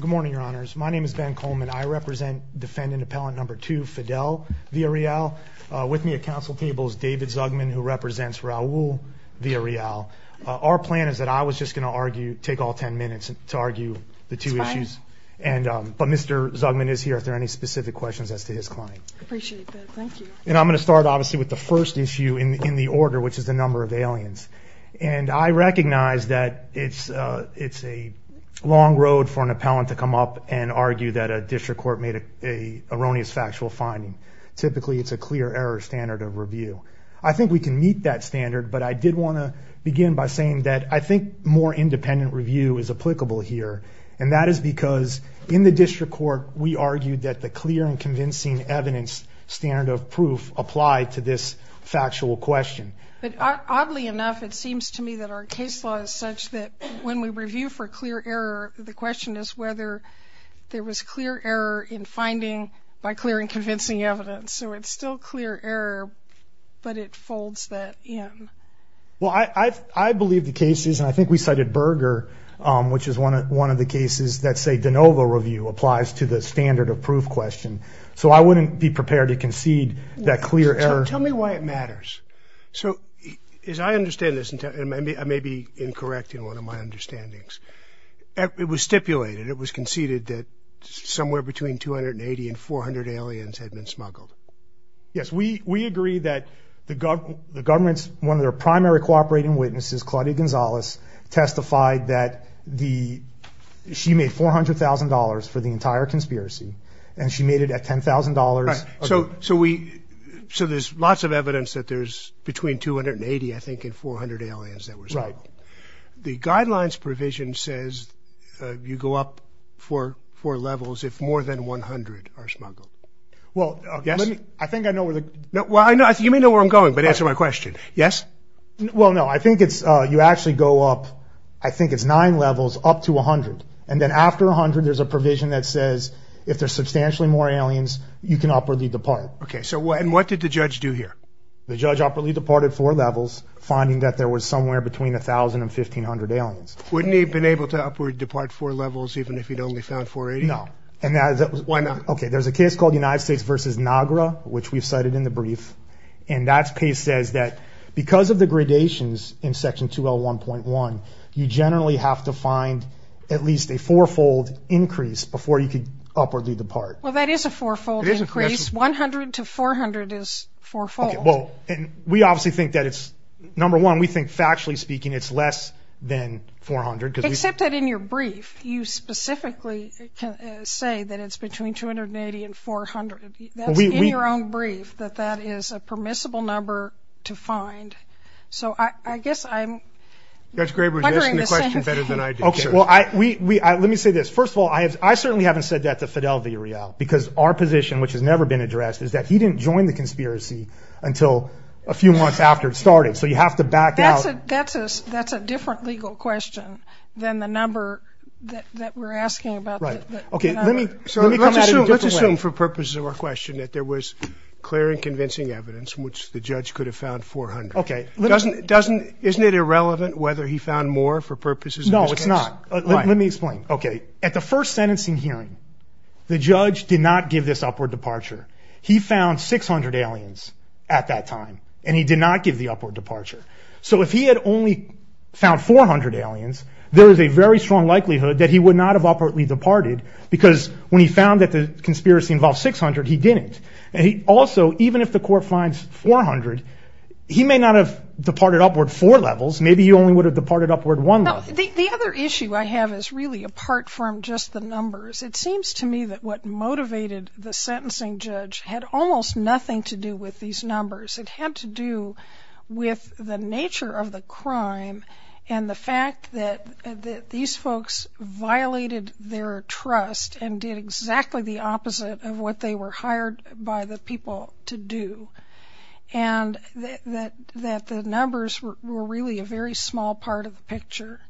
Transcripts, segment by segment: Good morning, your honors. My name is Ben Coleman. I represent defendant appellant number two, Fidel Villarreal. With me at council table is David Zugman, who represents Raul Villarreal. Our plan is that I was just gonna argue, take all 10 minutes to argue the two issues. It's fine. But Mr. Zugman is here, if there are any specific questions as to his client. I appreciate that, thank you. And I'm gonna start, obviously, with the first issue in the order, which is the number of aliens. And I recognize that it's a long road for an appellant to come up and argue that a district court made an erroneous factual finding. Typically, it's a clear error standard of review. I think we can meet that standard, but I did wanna begin by saying that I think more independent review is applicable here, and that is because in the district court, we argued that the clear and convincing evidence standard of proof applied to this factual question. But oddly enough, it seems to me that our case law is such that when we review for clear error, the question is whether there was clear error in finding by clear and convincing evidence. So it's still clear error, but it folds that in. Well, I believe the cases, and I think we cited Berger, which is one of the cases that say de novo review applies to the standard of proof question. So I wouldn't be prepared to concede that clear error. Tell me why it matters. So as I understand this, and I may be incorrect in one of my understandings, it was stipulated, it was conceded that somewhere between 280 and 400 aliens had been smuggled. Yes, we agree that the government's one of their primary cooperating witnesses, Claudia Gonzalez, testified that she made $400,000 for the entire conspiracy, and she made it at $10,000... Right. So there's lots of evidence that there's between 280, I think, and 400 aliens that were smuggled. Right. The guidelines provision says you go up four levels if more than 100 are smuggled. Well... Yes? I think I know where the... Well, I know... You may know where I'm going, but answer my question. Yes? Well, no. I think it's... You actually go up, I think it's nine levels up to 100. And then after 100, there's a provision that says if there's substantially more aliens, you can upwardly depart. Okay, so... And what did the judge do here? The judge upwardly departed four levels, finding that there was somewhere between 1,000 and 1,500 aliens. Wouldn't he have been able to upwardly depart four levels even if he'd only found 480? No. And that was... Why not? Okay, there's a case called United States versus NAGRA, which we've cited in the brief, and that case says that because of the gradations in section 2L1.1, you generally have to find at least a fourfold increase before you can upwardly depart. Well, that is a fourfold increase. 100 to 400 is fourfold. Okay, well, and we obviously think that it's... Number one, we think factually speaking, it's less than 400. Except that in your brief, you specifically say that it's between 280 and 400. That's in your own brief, that that is a permissible number to find. So I guess I'm wondering the same thing. Judge Graber, you answered the question better than I did, sure. Okay, well, let me say this. First of all, I certainly haven't said that to Fidel Villarreal because our position, which has never been addressed, is that he didn't join the conspiracy until a few months after it started, so you have to back out. That's a different legal question than the number that we're asking about. Right. Okay, let me come at it in a different way. Let's assume for purposes of our question that there was clear and convincing evidence in which the judge could have found 400. Okay. Isn't it irrelevant whether he found more for purposes of this case? No, it's not. Let me explain. Okay. At the first sentencing hearing, the judge did not give this upward departure. He found 600 aliens at that time, and he did not give the upward departure. So if he had only found 400 aliens, there is a very strong likelihood that he would not have upwardly departed because when he found that the conspiracy involved 600, he didn't. Also, even if the court finds 400, he may not have departed upward four levels. Maybe he only would have departed upward one level. The other issue I have is really apart from just the numbers. It seems to me that what motivated the sentencing judge had almost nothing to do with these numbers. It had to do with the nature of the crime and the fact that these folks violated their trust and did exactly the opposite of what they were hired by the people to do, and that the numbers were really a very small part of the picture.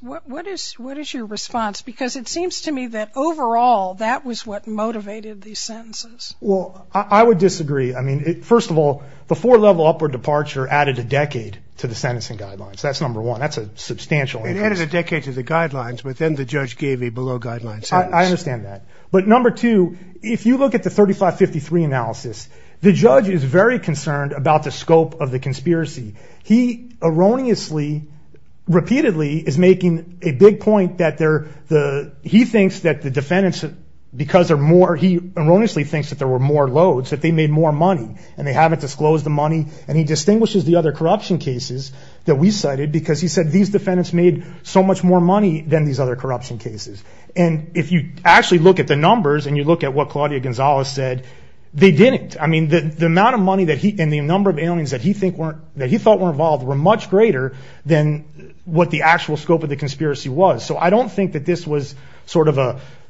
What is your response? Because it seems to me that overall, that was what motivated these sentences. Well, I would disagree. I mean, first of all, the four-level upward departure added a decade to the sentencing guidelines. That's number one. That's a substantial increase. It added a decade to the guidelines, but then the judge gave a below deadline sentence. I understand that, but number two, if you look at the 3553 analysis, the judge is very concerned about the scope of the conspiracy. He erroneously, repeatedly is making a big point that he thinks that the defendants, because they're more... He erroneously thinks that there were more loads, that they made more money, and they haven't disclosed the money, and he distinguishes the other corruption cases that we cited because he said these defendants made so much more money than these other cases. If you actually look at the numbers and you look at what Claudia Gonzalez said, they didn't. I mean, the amount of money and the number of aliens that he thought were involved were much greater than what the actual scope of the conspiracy was. So I don't think that this was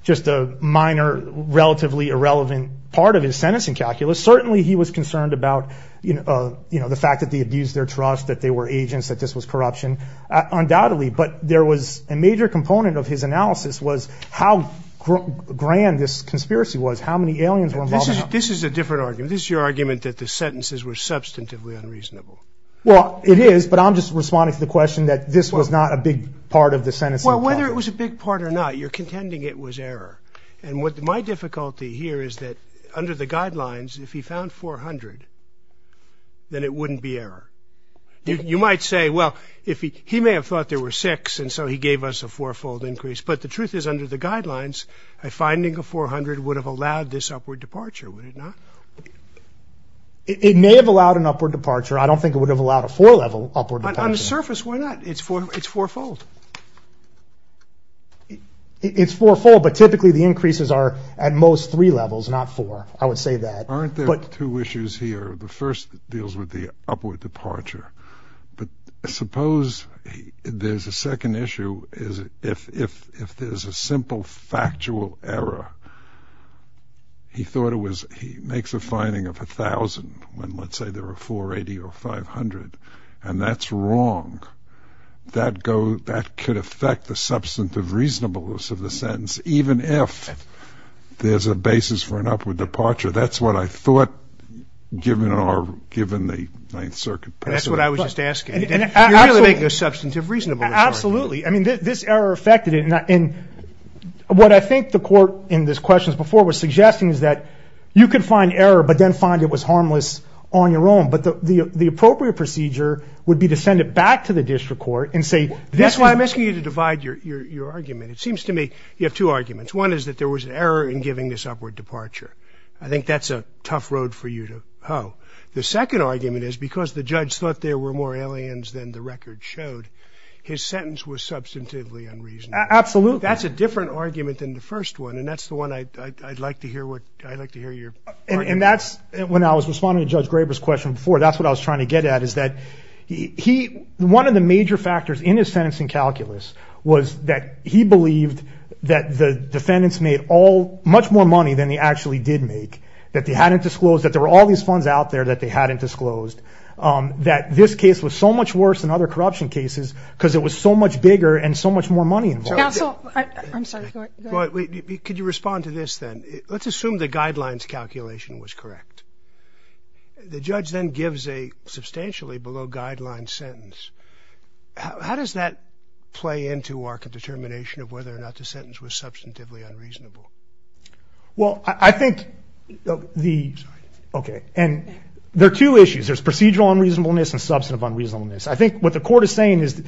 just a minor, relatively irrelevant part of his sentencing calculus. Certainly, he was concerned about the fact that they abused their trust, that they were agents, that this was corruption, undoubtedly, but there was a major component of his analysis was how grand this conspiracy was, how many aliens were involved... This is a different argument. This is your argument that the sentences were substantively unreasonable. Well, it is, but I'm just responding to the question that this was not a big part of the sentencing... Well, whether it was a big part or not, you're contending it was error. And what my difficulty here is that under the guidelines, if he found 400, then it wouldn't be error. You might say, well, he may have thought there were six, and so he gave us a fourfold increase, but the truth is under the guidelines, a finding of 400 would have allowed this upward departure, would it not? It may have allowed an upward departure. I don't think it would have allowed a four level upward departure. On the surface, why not? It's fourfold. It's fourfold, but typically the increases are at most three levels, not four. I would say that. Aren't there two issues here? The first deals with the upward departure, but suppose there's a second issue, if there's a simple factual error, he thought it was... He makes a finding of 1,000, when let's say there were 480 or 500, and that's wrong. That could affect the substantive reasonableness of the sentence, even if there's a basis for an upward departure. That's what I thought, given the Ninth Circuit precedent. That's what I was just asking. You're really making a substantive reasonableness argument. Absolutely. I mean, this error affected it, and what I think the court in this question before was suggesting is that you could find error, but then find it was harmless on your own, but the appropriate procedure would be to send it back to the district court and say, that's why I'm asking you to divide your argument. It seems to me you have two arguments. One is that there was an error in giving this upward departure. I think that's a tough road for you to hoe. The second argument is because the judge thought there were more aliens than the record showed, his sentence was substantively unreasonable. Absolutely. That's a different argument than the first one, and that's the one I'd like to hear your... And that's... When I was responding to Judge Graber's question before, that's what I was trying to get at, is that one of the major factors in his sentencing calculus was that he believed that the defendants made all... Much more money than they actually did make, that they hadn't disclosed, that there were all these funds out there that they hadn't disclosed, that this case was so much worse than other corruption cases, because it was so much bigger and so much more money involved. Counsel, I'm sorry, go ahead. Could you respond to this, then? Let's assume the guidelines calculation was correct. The judge then gives a substantially below guideline sentence. How does that play into our determination of whether or not the sentence was substantively unreasonable? Well, I think the... Sorry. Okay. And there are two issues. There's procedural unreasonableness and substantive unreasonableness. I think what the court is saying is,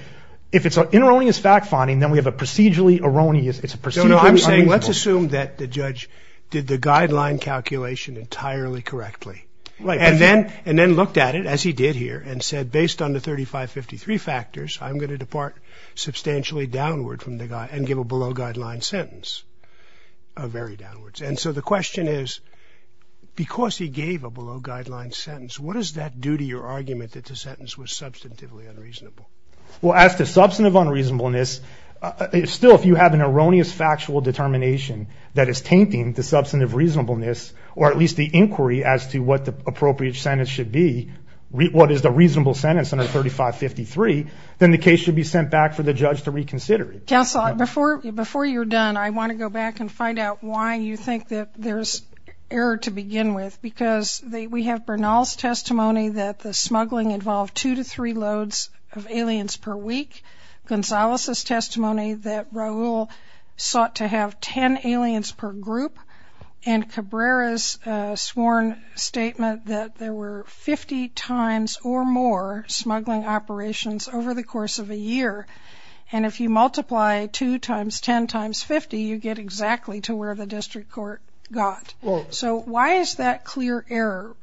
if it's an erroneous fact finding, then we have a procedurally erroneous... It's a procedurally unreasonable. No, no, I'm saying let's assume that the judge did the guideline calculation entirely correctly. Right. And then looked at it, as he did here, and said, based on the 3553 factors, I'm gonna depart substantially downward from the... And give a below guideline sentence, very downwards. And so the question is, because he gave a below guideline sentence, what does that do to your argument that the sentence was substantively unreasonable? Well, as to substantive unreasonableness, still, if you have an erroneous factual determination that is tainting the substantive reasonableness, or at least the inquiry as to what the appropriate sentence should be, what is the reasonable sentence under 3553, then the case should be sent back for the judge to reconsider it. Counsel, before you're done, I wanna go back and find out why you think that there's error to begin with, because we have Bernal's testimony that the smuggling involved two to three loads of aliens per week, Gonzalez's testimony that Raul sought to have 10 aliens per group, and Cabrera's sworn statement that there were 50 times or more smuggling operations over the course of a year. And if you multiply two times 10 times 50, you get exactly to where the district court got. So why is that clear error?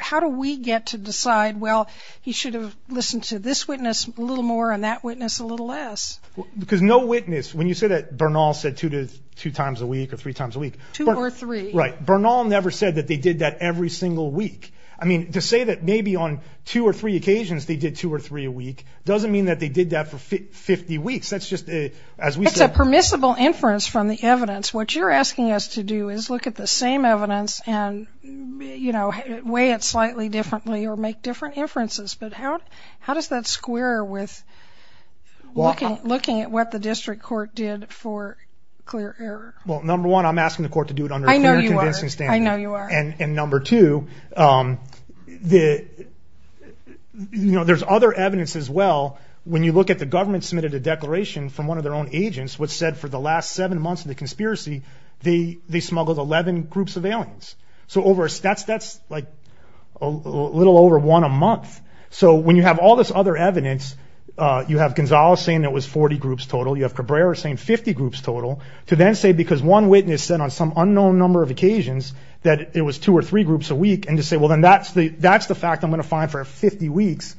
How do we get to decide, well, he should have listened to this witness a little more and that witness a little less? Because no witness... When you say that Bernal said two times a week or three times a week... Two or three. Right. Bernal never said that they did that every single week. I mean, to say that maybe on two or three occasions they did two or three a week doesn't mean that they did that for 50 weeks. That's just, as we said... It's a permissible inference from the evidence. What you're asking us to do is look at the same evidence and weigh it slightly differently or make different inferences. But how does that square with looking at what the district court did for clear error? Well, number one, I'm asking the court to do it under a clear, convincing standard. I know you are. I know you are. And number two, there's other evidence as well. When you look at the government submitted a declaration from one of their own agents, which said for the last seven months of the conspiracy, they smuggled 11 groups of aliens. So over... That's like a little over one a month. So when you have all this other evidence, you have Gonzalo saying it was 40 groups total, you have Cabrera saying 50 groups total, to then say because one witness said on some unknown number of occasions that it was two or three groups a week, and to say, well, then that's the fact I'm going to find for 50 weeks,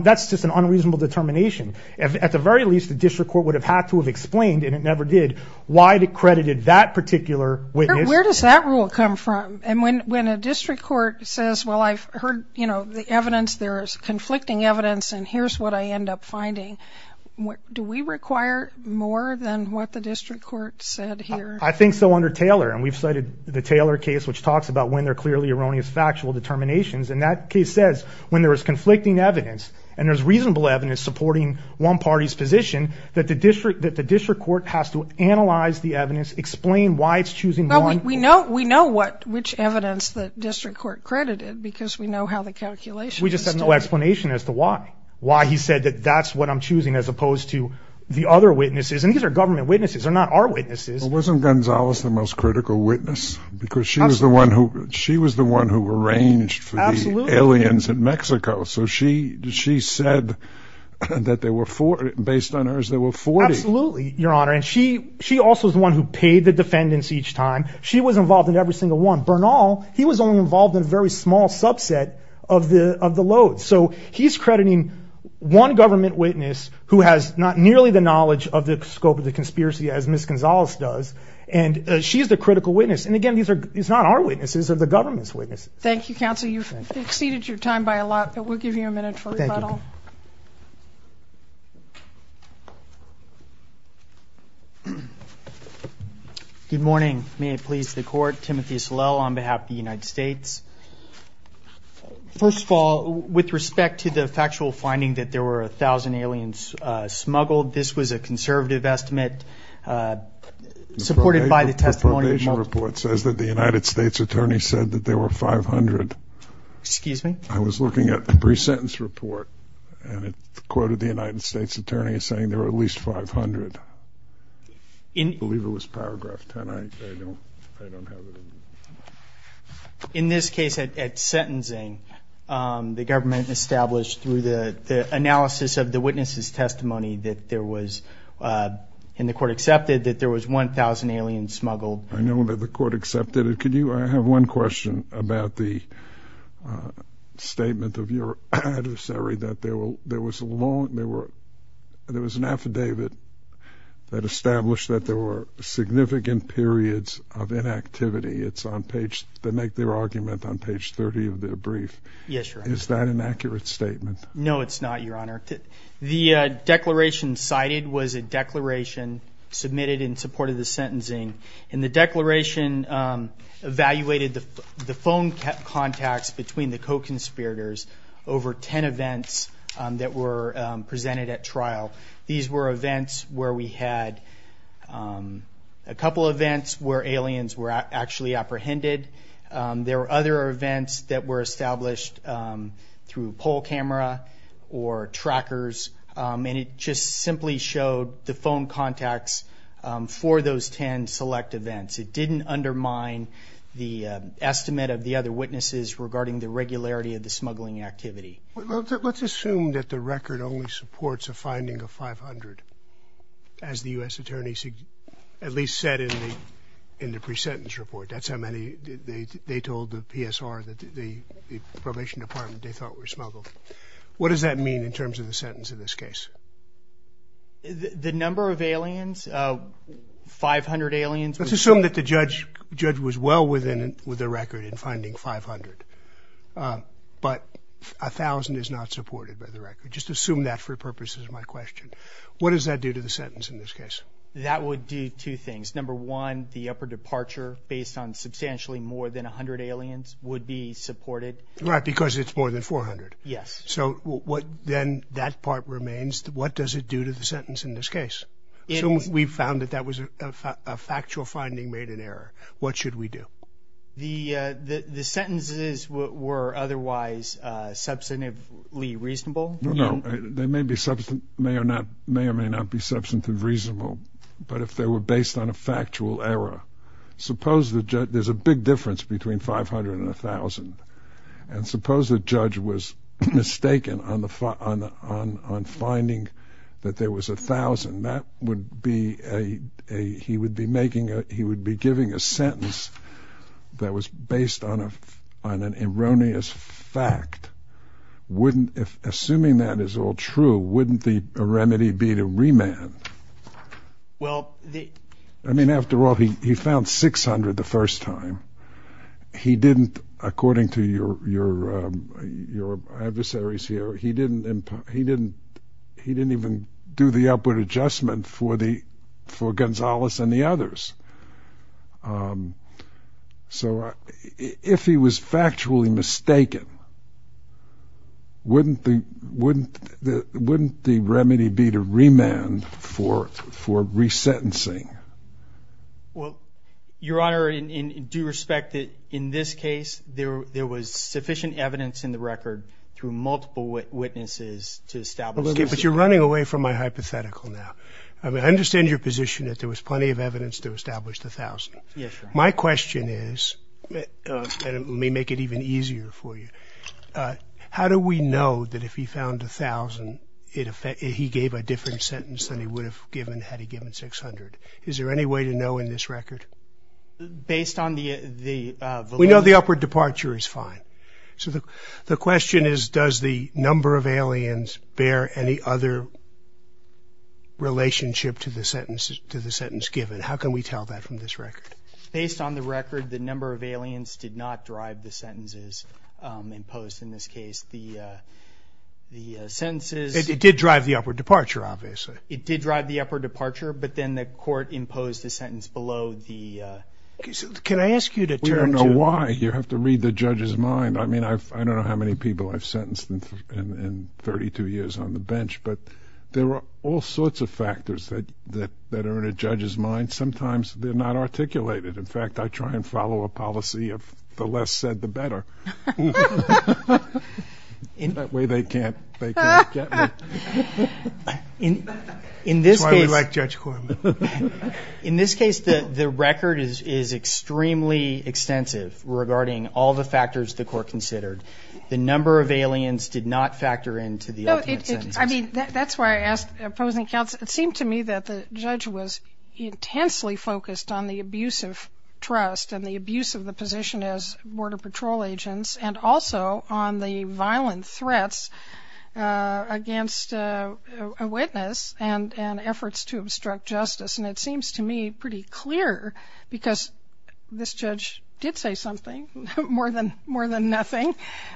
that's just an unreasonable determination. At the very least, the district court would have had to have explained, and it never did, why it accredited that particular witness. Where does that rule come from? And when a district court says, well, I've heard the evidence, there is conflicting evidence, and here's what I end up finding. Do we require more than what the district court said here? I think so under Taylor, and we've cited the Taylor case, which talks about when there are clearly erroneous factual determinations. And that case says, when there is conflicting evidence, and there's reasonable evidence supporting one party's position, that the district court has to analyze the evidence, explain why it's choosing one... Well, we know which evidence the district court credited, because we know how the calculations... We just have no explanation as to why. Why he said that that's what I'm choosing as opposed to the other witnesses, and these are government witnesses, they're not our witnesses. Wasn't Gonzalez the most critical witness? Because she was the one who arranged for the aliens in Mexico, so she said that there were four... Based on hers, there were 40. Absolutely, Your Honor. And she also is the one who paid the defendants each time. She was involved in every single one. Bernal, he was only involved in a very small subset of the loads. So he's crediting one government witness who has not nearly the knowledge of the scope of the conspiracy as Ms. Gonzalez does, and she's the critical witness. And again, these are... It's not our witnesses, they're the government's witnesses. Thank you, counsel. You've exceeded your time by a lot, but we'll give you a minute for rebuttal. Thank you. Good morning. May it please the Court. First of all, with respect to the factual finding that there were 1,000 aliens smuggled, this was a conservative estimate supported by the testimony... The probation report says that the United States attorney said that there were 500. Excuse me? I was looking at the pre sentence report, and it quoted the United States attorney as saying there were at least 500. I believe it was paragraph 10. I don't have it. In this case, at sentencing, the government established through the analysis of the witness's testimony that there was... And the court accepted that there was 1,000 aliens smuggled. I know that the court accepted it. Could you... I have one question about the statement of your adversary that there was a long... There was an affidavit that established that there were significant periods of inactivity. It's on page... They make their argument on page 30 of their brief. Yes, Your Honor. Is that an accurate statement? No, it's not, Your Honor. The declaration cited was a declaration submitted in support of the sentencing, and the declaration evaluated the phone contacts between the events where we had a couple events where aliens were actually apprehended. There were other events that were established through poll camera or trackers, and it just simply showed the phone contacts for those 10 select events. It didn't undermine the estimate of the other witnesses regarding the regularity of the smuggling activity. Let's assume that the record only supports a finding of 500, as the US Attorney at least said in the pre sentence report. That's how many... They told the PSR, the probation department, they thought were smuggled. What does that mean in terms of the sentence in this case? The number of aliens, 500 aliens... Let's assume that the judge was well with the record in finding 500, but 1,000 is not supported by the court. Let's assume that for purposes of my question. What does that do to the sentence in this case? That would do two things. Number one, the upper departure based on substantially more than 100 aliens would be supported. Right, because it's more than 400. Yes. So what then that part remains, what does it do to the sentence in this case? We found that that was a factual finding made in error. What should we do? The sentences were otherwise substantively reasonable? No, they may or may not be substantively reasonable, but if they were based on a factual error, suppose that there's a big difference between 500 and 1,000, and suppose the judge was mistaken on finding that there was 1,000, that would be a... He would be making a... He would be giving a sentence that was based on an erroneous fact. Wouldn't... Assuming that is all true, wouldn't the remedy be to remand? Well, the... I mean, after all, he found 600 the first time. He didn't, according to your adversaries here, he didn't even do the upward process. So if he was factually mistaken, wouldn't the remedy be to remand for resentencing? Well, Your Honor, in due respect that in this case, there was sufficient evidence in the record through multiple witnesses to establish... But you're running away from my hypothetical now. I understand your position that there was plenty of evidence to establish 1,000. Yes, Your Honor. My question is, and let me make it even easier for you, how do we know that if he found 1,000, he gave a different sentence than he would have given had he given 600? Is there any way to know in this record? Based on the validity... We know the upward departure is fine. So the question is, does the number of aliens bear any other relationship to the sentence given? How can we tell that from this record? Based on the record, the number of aliens did not drive the sentences imposed in this case. The sentences... It did drive the upward departure, obviously. It did drive the upward departure, but then the court imposed the sentence below the... Can I ask you to turn to... We don't know why. You have to read the judge's mind. I don't know how many people I've heard. There are all sorts of factors that are in a judge's mind. Sometimes they're not articulated. In fact, I try and follow a policy of the less said, the better. That way they can't get me. That's why we like Judge Korman. In this case, the record is extremely extensive regarding all the factors the court considered. The number of aliens did not factor into the ultimate sentence. That's why I asked opposing counsel. It seemed to me that the judge was intensely focused on the abuse of trust and the abuse of the position as border patrol agents, and also on the violent threats against a witness and efforts to obstruct justice. And it seems to me pretty clear, because this judge did say something, more than nothing,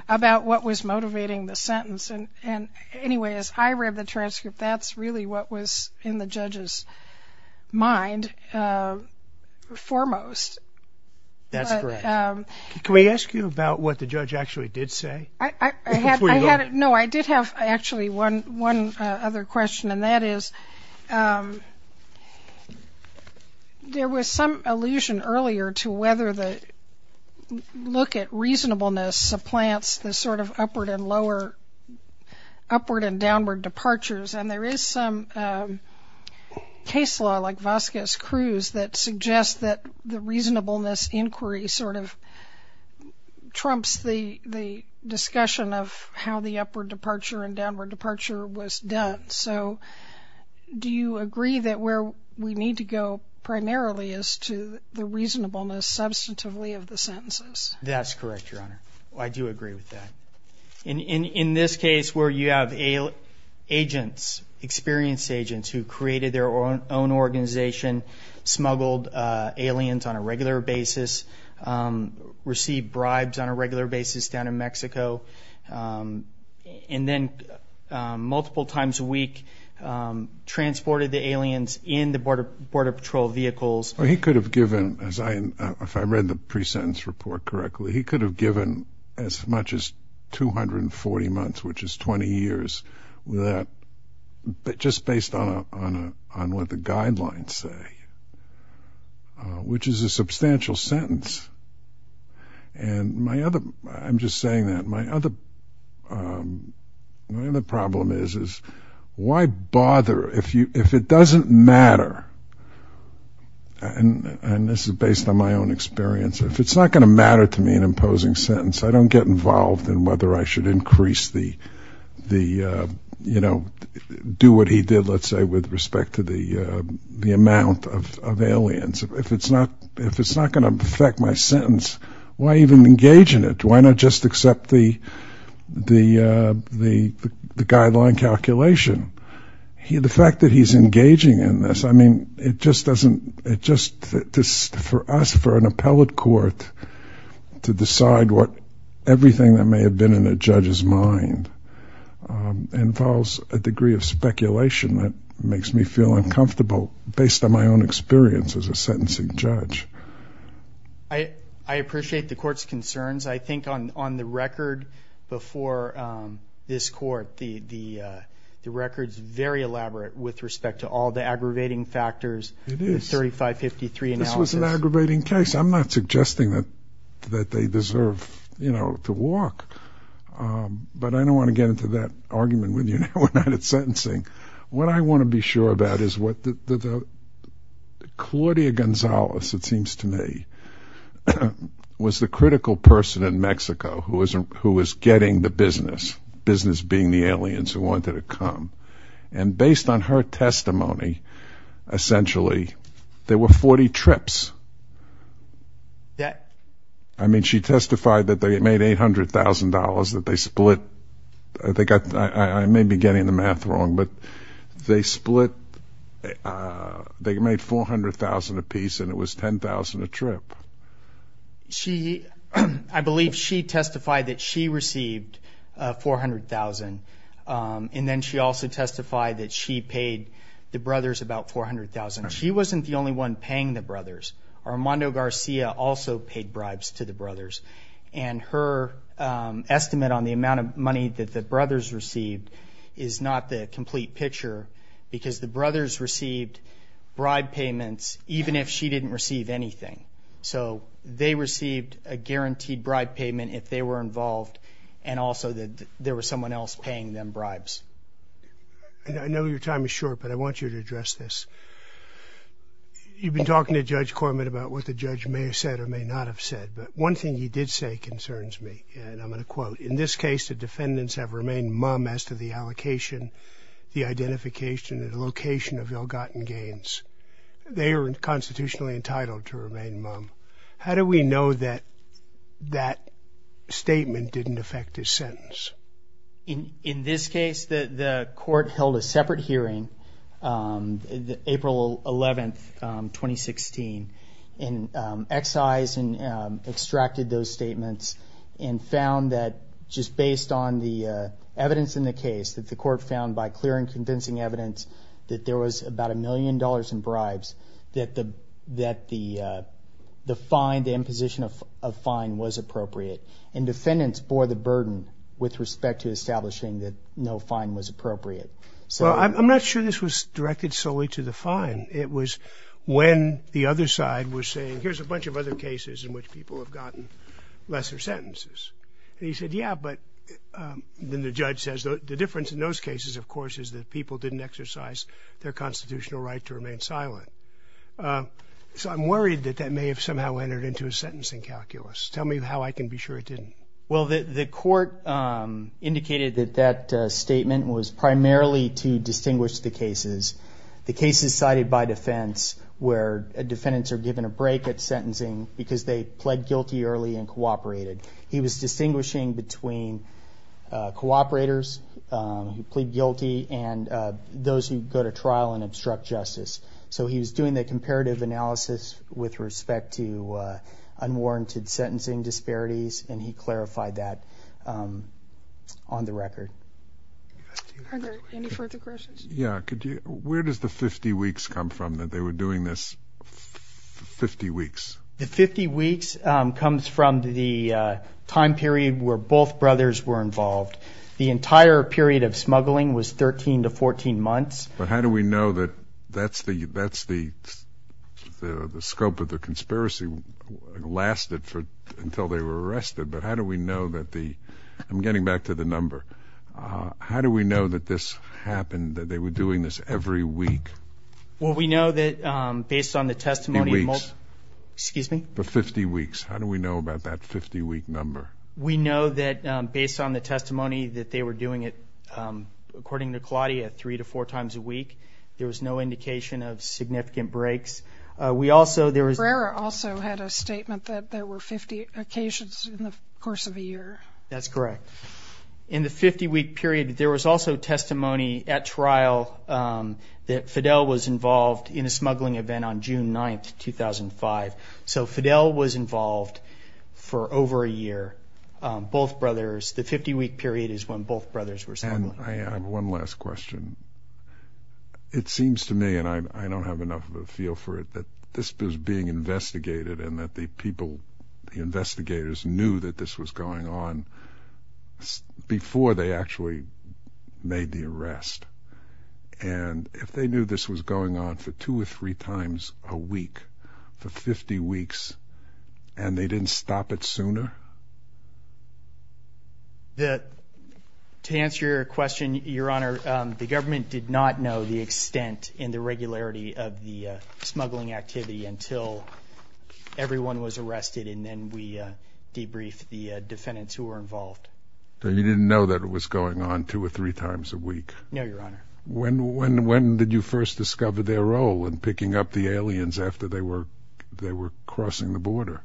about what was motivating the sentence. And anyway, as I read the transcript, that's really what was in the judge's mind foremost. That's correct. Can we ask you about what the judge actually did say? No, I did have, actually, one other question, and that is, there was some allusion earlier to whether the look at reasonableness supplants the sort of upward and downward departures. And there is some case law, like Vazquez-Cruz, that suggests that the reasonableness inquiry sort of trumps the discussion of how the upward departure and downward departure was done. So do you agree that where we the sentences? That's correct, Your Honor. I do agree with that. In this case, where you have agents, experienced agents, who created their own organization, smuggled aliens on a regular basis, received bribes on a regular basis down in Mexico, and then multiple times a week transported the aliens in the border patrol vehicles. He could have given, as I read the pre-sentence report correctly, he could have given as much as 240 months, which is 20 years, just based on what the guidelines say, which is a substantial sentence. And my other, I'm just saying that, my other problem is, is why bother if you, if it doesn't matter, and this is based on my own experience, if it's not going to matter to me an imposing sentence, I don't get involved in whether I should increase the, you know, do what he did, let's say, with respect to the amount of aliens. If it's not going to affect my sentence, why even engage in it? Why not just accept the guideline calculation? The fact that he's engaging in this, I mean, it just doesn't, it just, for us, for an appellate court to decide what, everything that may have been in a judge's mind, involves a degree of speculation that makes me feel uncomfortable based on my own experience as a sentencing judge. I appreciate the court's concerns. I think on the record before this court, the record's very elaborate with respect to all the aggravating factors, the 3553 analysis. This was an aggravating case. I'm not suggesting that, that they deserve, you know, to walk. But I don't want to get into that argument with you now when I'm at sentencing. What I want to be sure about is what the, Claudia Gonzalez, it seems to me, was the critical person in Mexico who was, who was getting the testimony. And based on her testimony, essentially, there were 40 trips. I mean, she testified that they made $800,000, that they split, I think, I may be getting the math wrong, but they split, they made $400,000 apiece and it was $10,000 a trip. She, I believe she testified that she received $400,000 and then she also testified that she paid the brothers about $400,000. She wasn't the only one paying the brothers. Armando Garcia also paid bribes to the brothers and her estimate on the amount of money that the brothers received is not the complete picture because the brothers received bribe payments even if she didn't receive anything. So they received a guaranteed bribe payment if they were involved and also that there was someone else paying them bribes. I know your time is short, but I want you to address this. You've been talking to Judge Cormitt about what the judge may have said or may not have said, but one thing he did say concerns me and I'm going to quote. In this case, the defendants have remained mum as to the allocation, the identification, and the location of Elgaten gains. They are constitutionally entitled to remain mum. How do we know that that statement didn't affect his sentence? In this case, the court held a separate hearing April 11, 2016 and excised and extracted those statements and found that just based on the evidence in the case that the court found by clear and convincing evidence that there was about a million dollars in bribes that the that the the fine the imposition of a fine was appropriate and defendants bore the burden with respect to establishing that no fine was appropriate. Well, I'm not sure this was directed solely to the fine. It was when the other side was saying here's a bunch of other cases in which people have gotten lesser sentences and he said yeah but then the judge says the difference in those cases of course is that people didn't exercise their constitutional right to remain silent. So I'm worried that that may have somehow entered into a sentencing calculus. Tell me how I can be sure it didn't. Well, the court indicated that that statement was primarily to distinguish the cases. The cases cited by defense where defendants are given a break at sentencing because they pled guilty early and cooperated. He was distinguishing between cooperators who plead guilty and those who go to trial and obstruct justice. So he was doing the comparative analysis with respect to unwarranted sentencing disparities and he clarified that on the record. Yeah, where does the 50 weeks come from that they were doing this 50 weeks? The 50 weeks comes from the time where both brothers were involved. The entire period of smuggling was 13 to 14 months. But how do we know that that's the that's the the scope of the conspiracy lasted for until they were arrested but how do we know that the I'm getting back to the number. How do we know that this happened that they were doing this every week? Well, we know that based on the testimony excuse me for 50 week number. We know that based on the testimony that they were doing it according to Claudia three to four times a week there was no indication of significant breaks. We also there was also had a statement that there were 50 occasions in the course of a year. That's correct. In the 50 week period there was also testimony at trial that Fidel was involved in a smuggling event on June 9th 2005. So Fidel was involved for over a year. Both brothers the 50 week period is when both brothers were smuggled. I have one last question. It seems to me and I don't have enough of a feel for it that this was being investigated and that the people the investigators knew that this was going on before they actually made the arrest. And if they knew this was going on for two or three times a week for 50 weeks and they didn't stop it sooner? That to answer your question your honor the government did not know the extent in the regularity of the smuggling activity until everyone was arrested and then we debrief the defendants who were involved. So you didn't know that it was going on two or three times a week? No your honor. When when when did you first discover their role in picking up the aliens after they were they were crossing the border?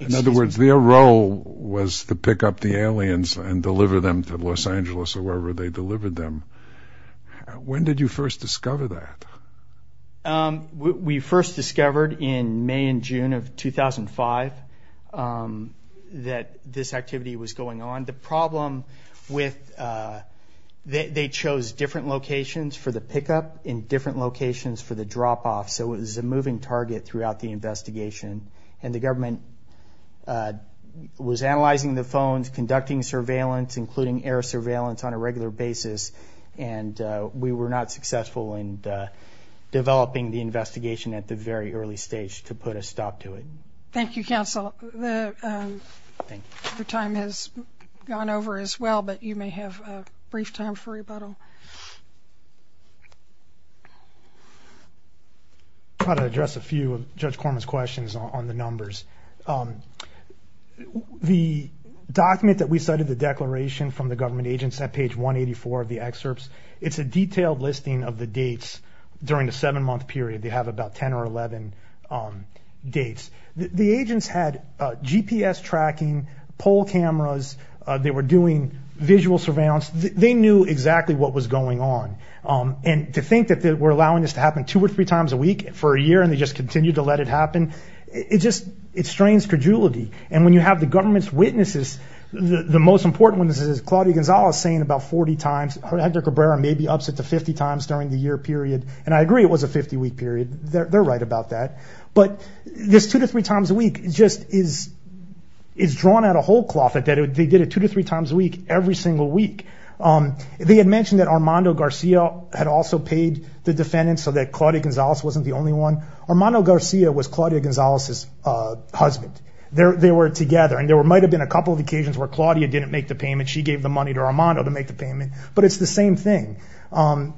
In other words their role was to pick up the aliens and deliver them to Los Angeles or wherever they delivered them. When did you first discover that? We first discovered in May and June of 2005 that this activity was going on. The different locations for the drop-off so it was a moving target throughout the investigation and the government was analyzing the phones conducting surveillance including air surveillance on a regular basis and we were not successful in developing the investigation at the very early stage to put a stop to it. Thank you counsel the time has gone over as well but you may have a brief time for rebuttal. How to address a few of Judge Corman's questions on the numbers. The document that we cited the declaration from the government agents at page 184 of the excerpts it's a detailed listing of the dates during the seven month period they have about 10 or 11 dates. The agents had GPS tracking, poll cameras, they were doing visual surveillance, they knew exactly what was going on and to think that they were allowing this to happen two or three times a week for a year and they just continued to let it happen it just it strains credulity and when you have the government's witnesses the most important one this is Claudia Gonzales saying about 40 times Hector Cabrera maybe ups it to 50 times during the year period and I agree it was a 50 week period they're right about that but this two to three times a week just is is drawn out a whole cloth that they did it two to three times a week every single week. They had mentioned that Armando Garcia had also paid the defendants so that Claudia Gonzales wasn't the only one. Armando Garcia was Claudia Gonzales's husband. They were together and there might have been a couple of occasions where Claudia didn't make the payment she gave the money to Armando to make the payment but it's the same thing and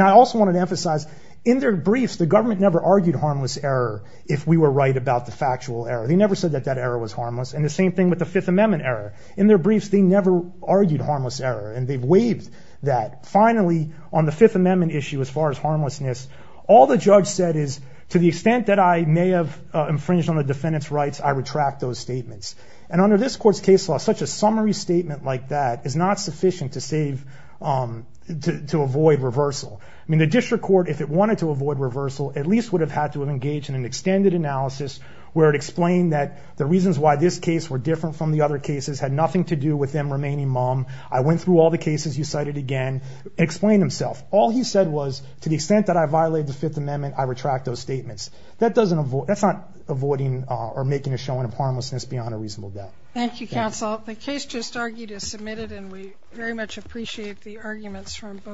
I also wanted to emphasize in their briefs the government never argued harmless error if we were to write about the factual error they never said that that error was harmless and the same thing with the Fifth Amendment error in their briefs they never argued harmless error and they've waived that finally on the Fifth Amendment issue as far as harmlessness all the judge said is to the extent that I may have infringed on the defendants rights I retract those statements and under this court's case law such a summary statement like that is not sufficient to save to avoid reversal I mean the district court if it wanted to avoid reversal at least would have had to have engaged in an extended analysis where it explained that the reasons why this case were different from the other cases had nothing to do with them remaining mom I went through all the cases you cited again explained himself all he said was to the extent that I violated the Fifth Amendment I retract those statements that doesn't avoid that's not avoiding or making a showing of harmlessness beyond a reasonable doubt thank you counsel the case just argued is submitted and we very much appreciate the arguments from both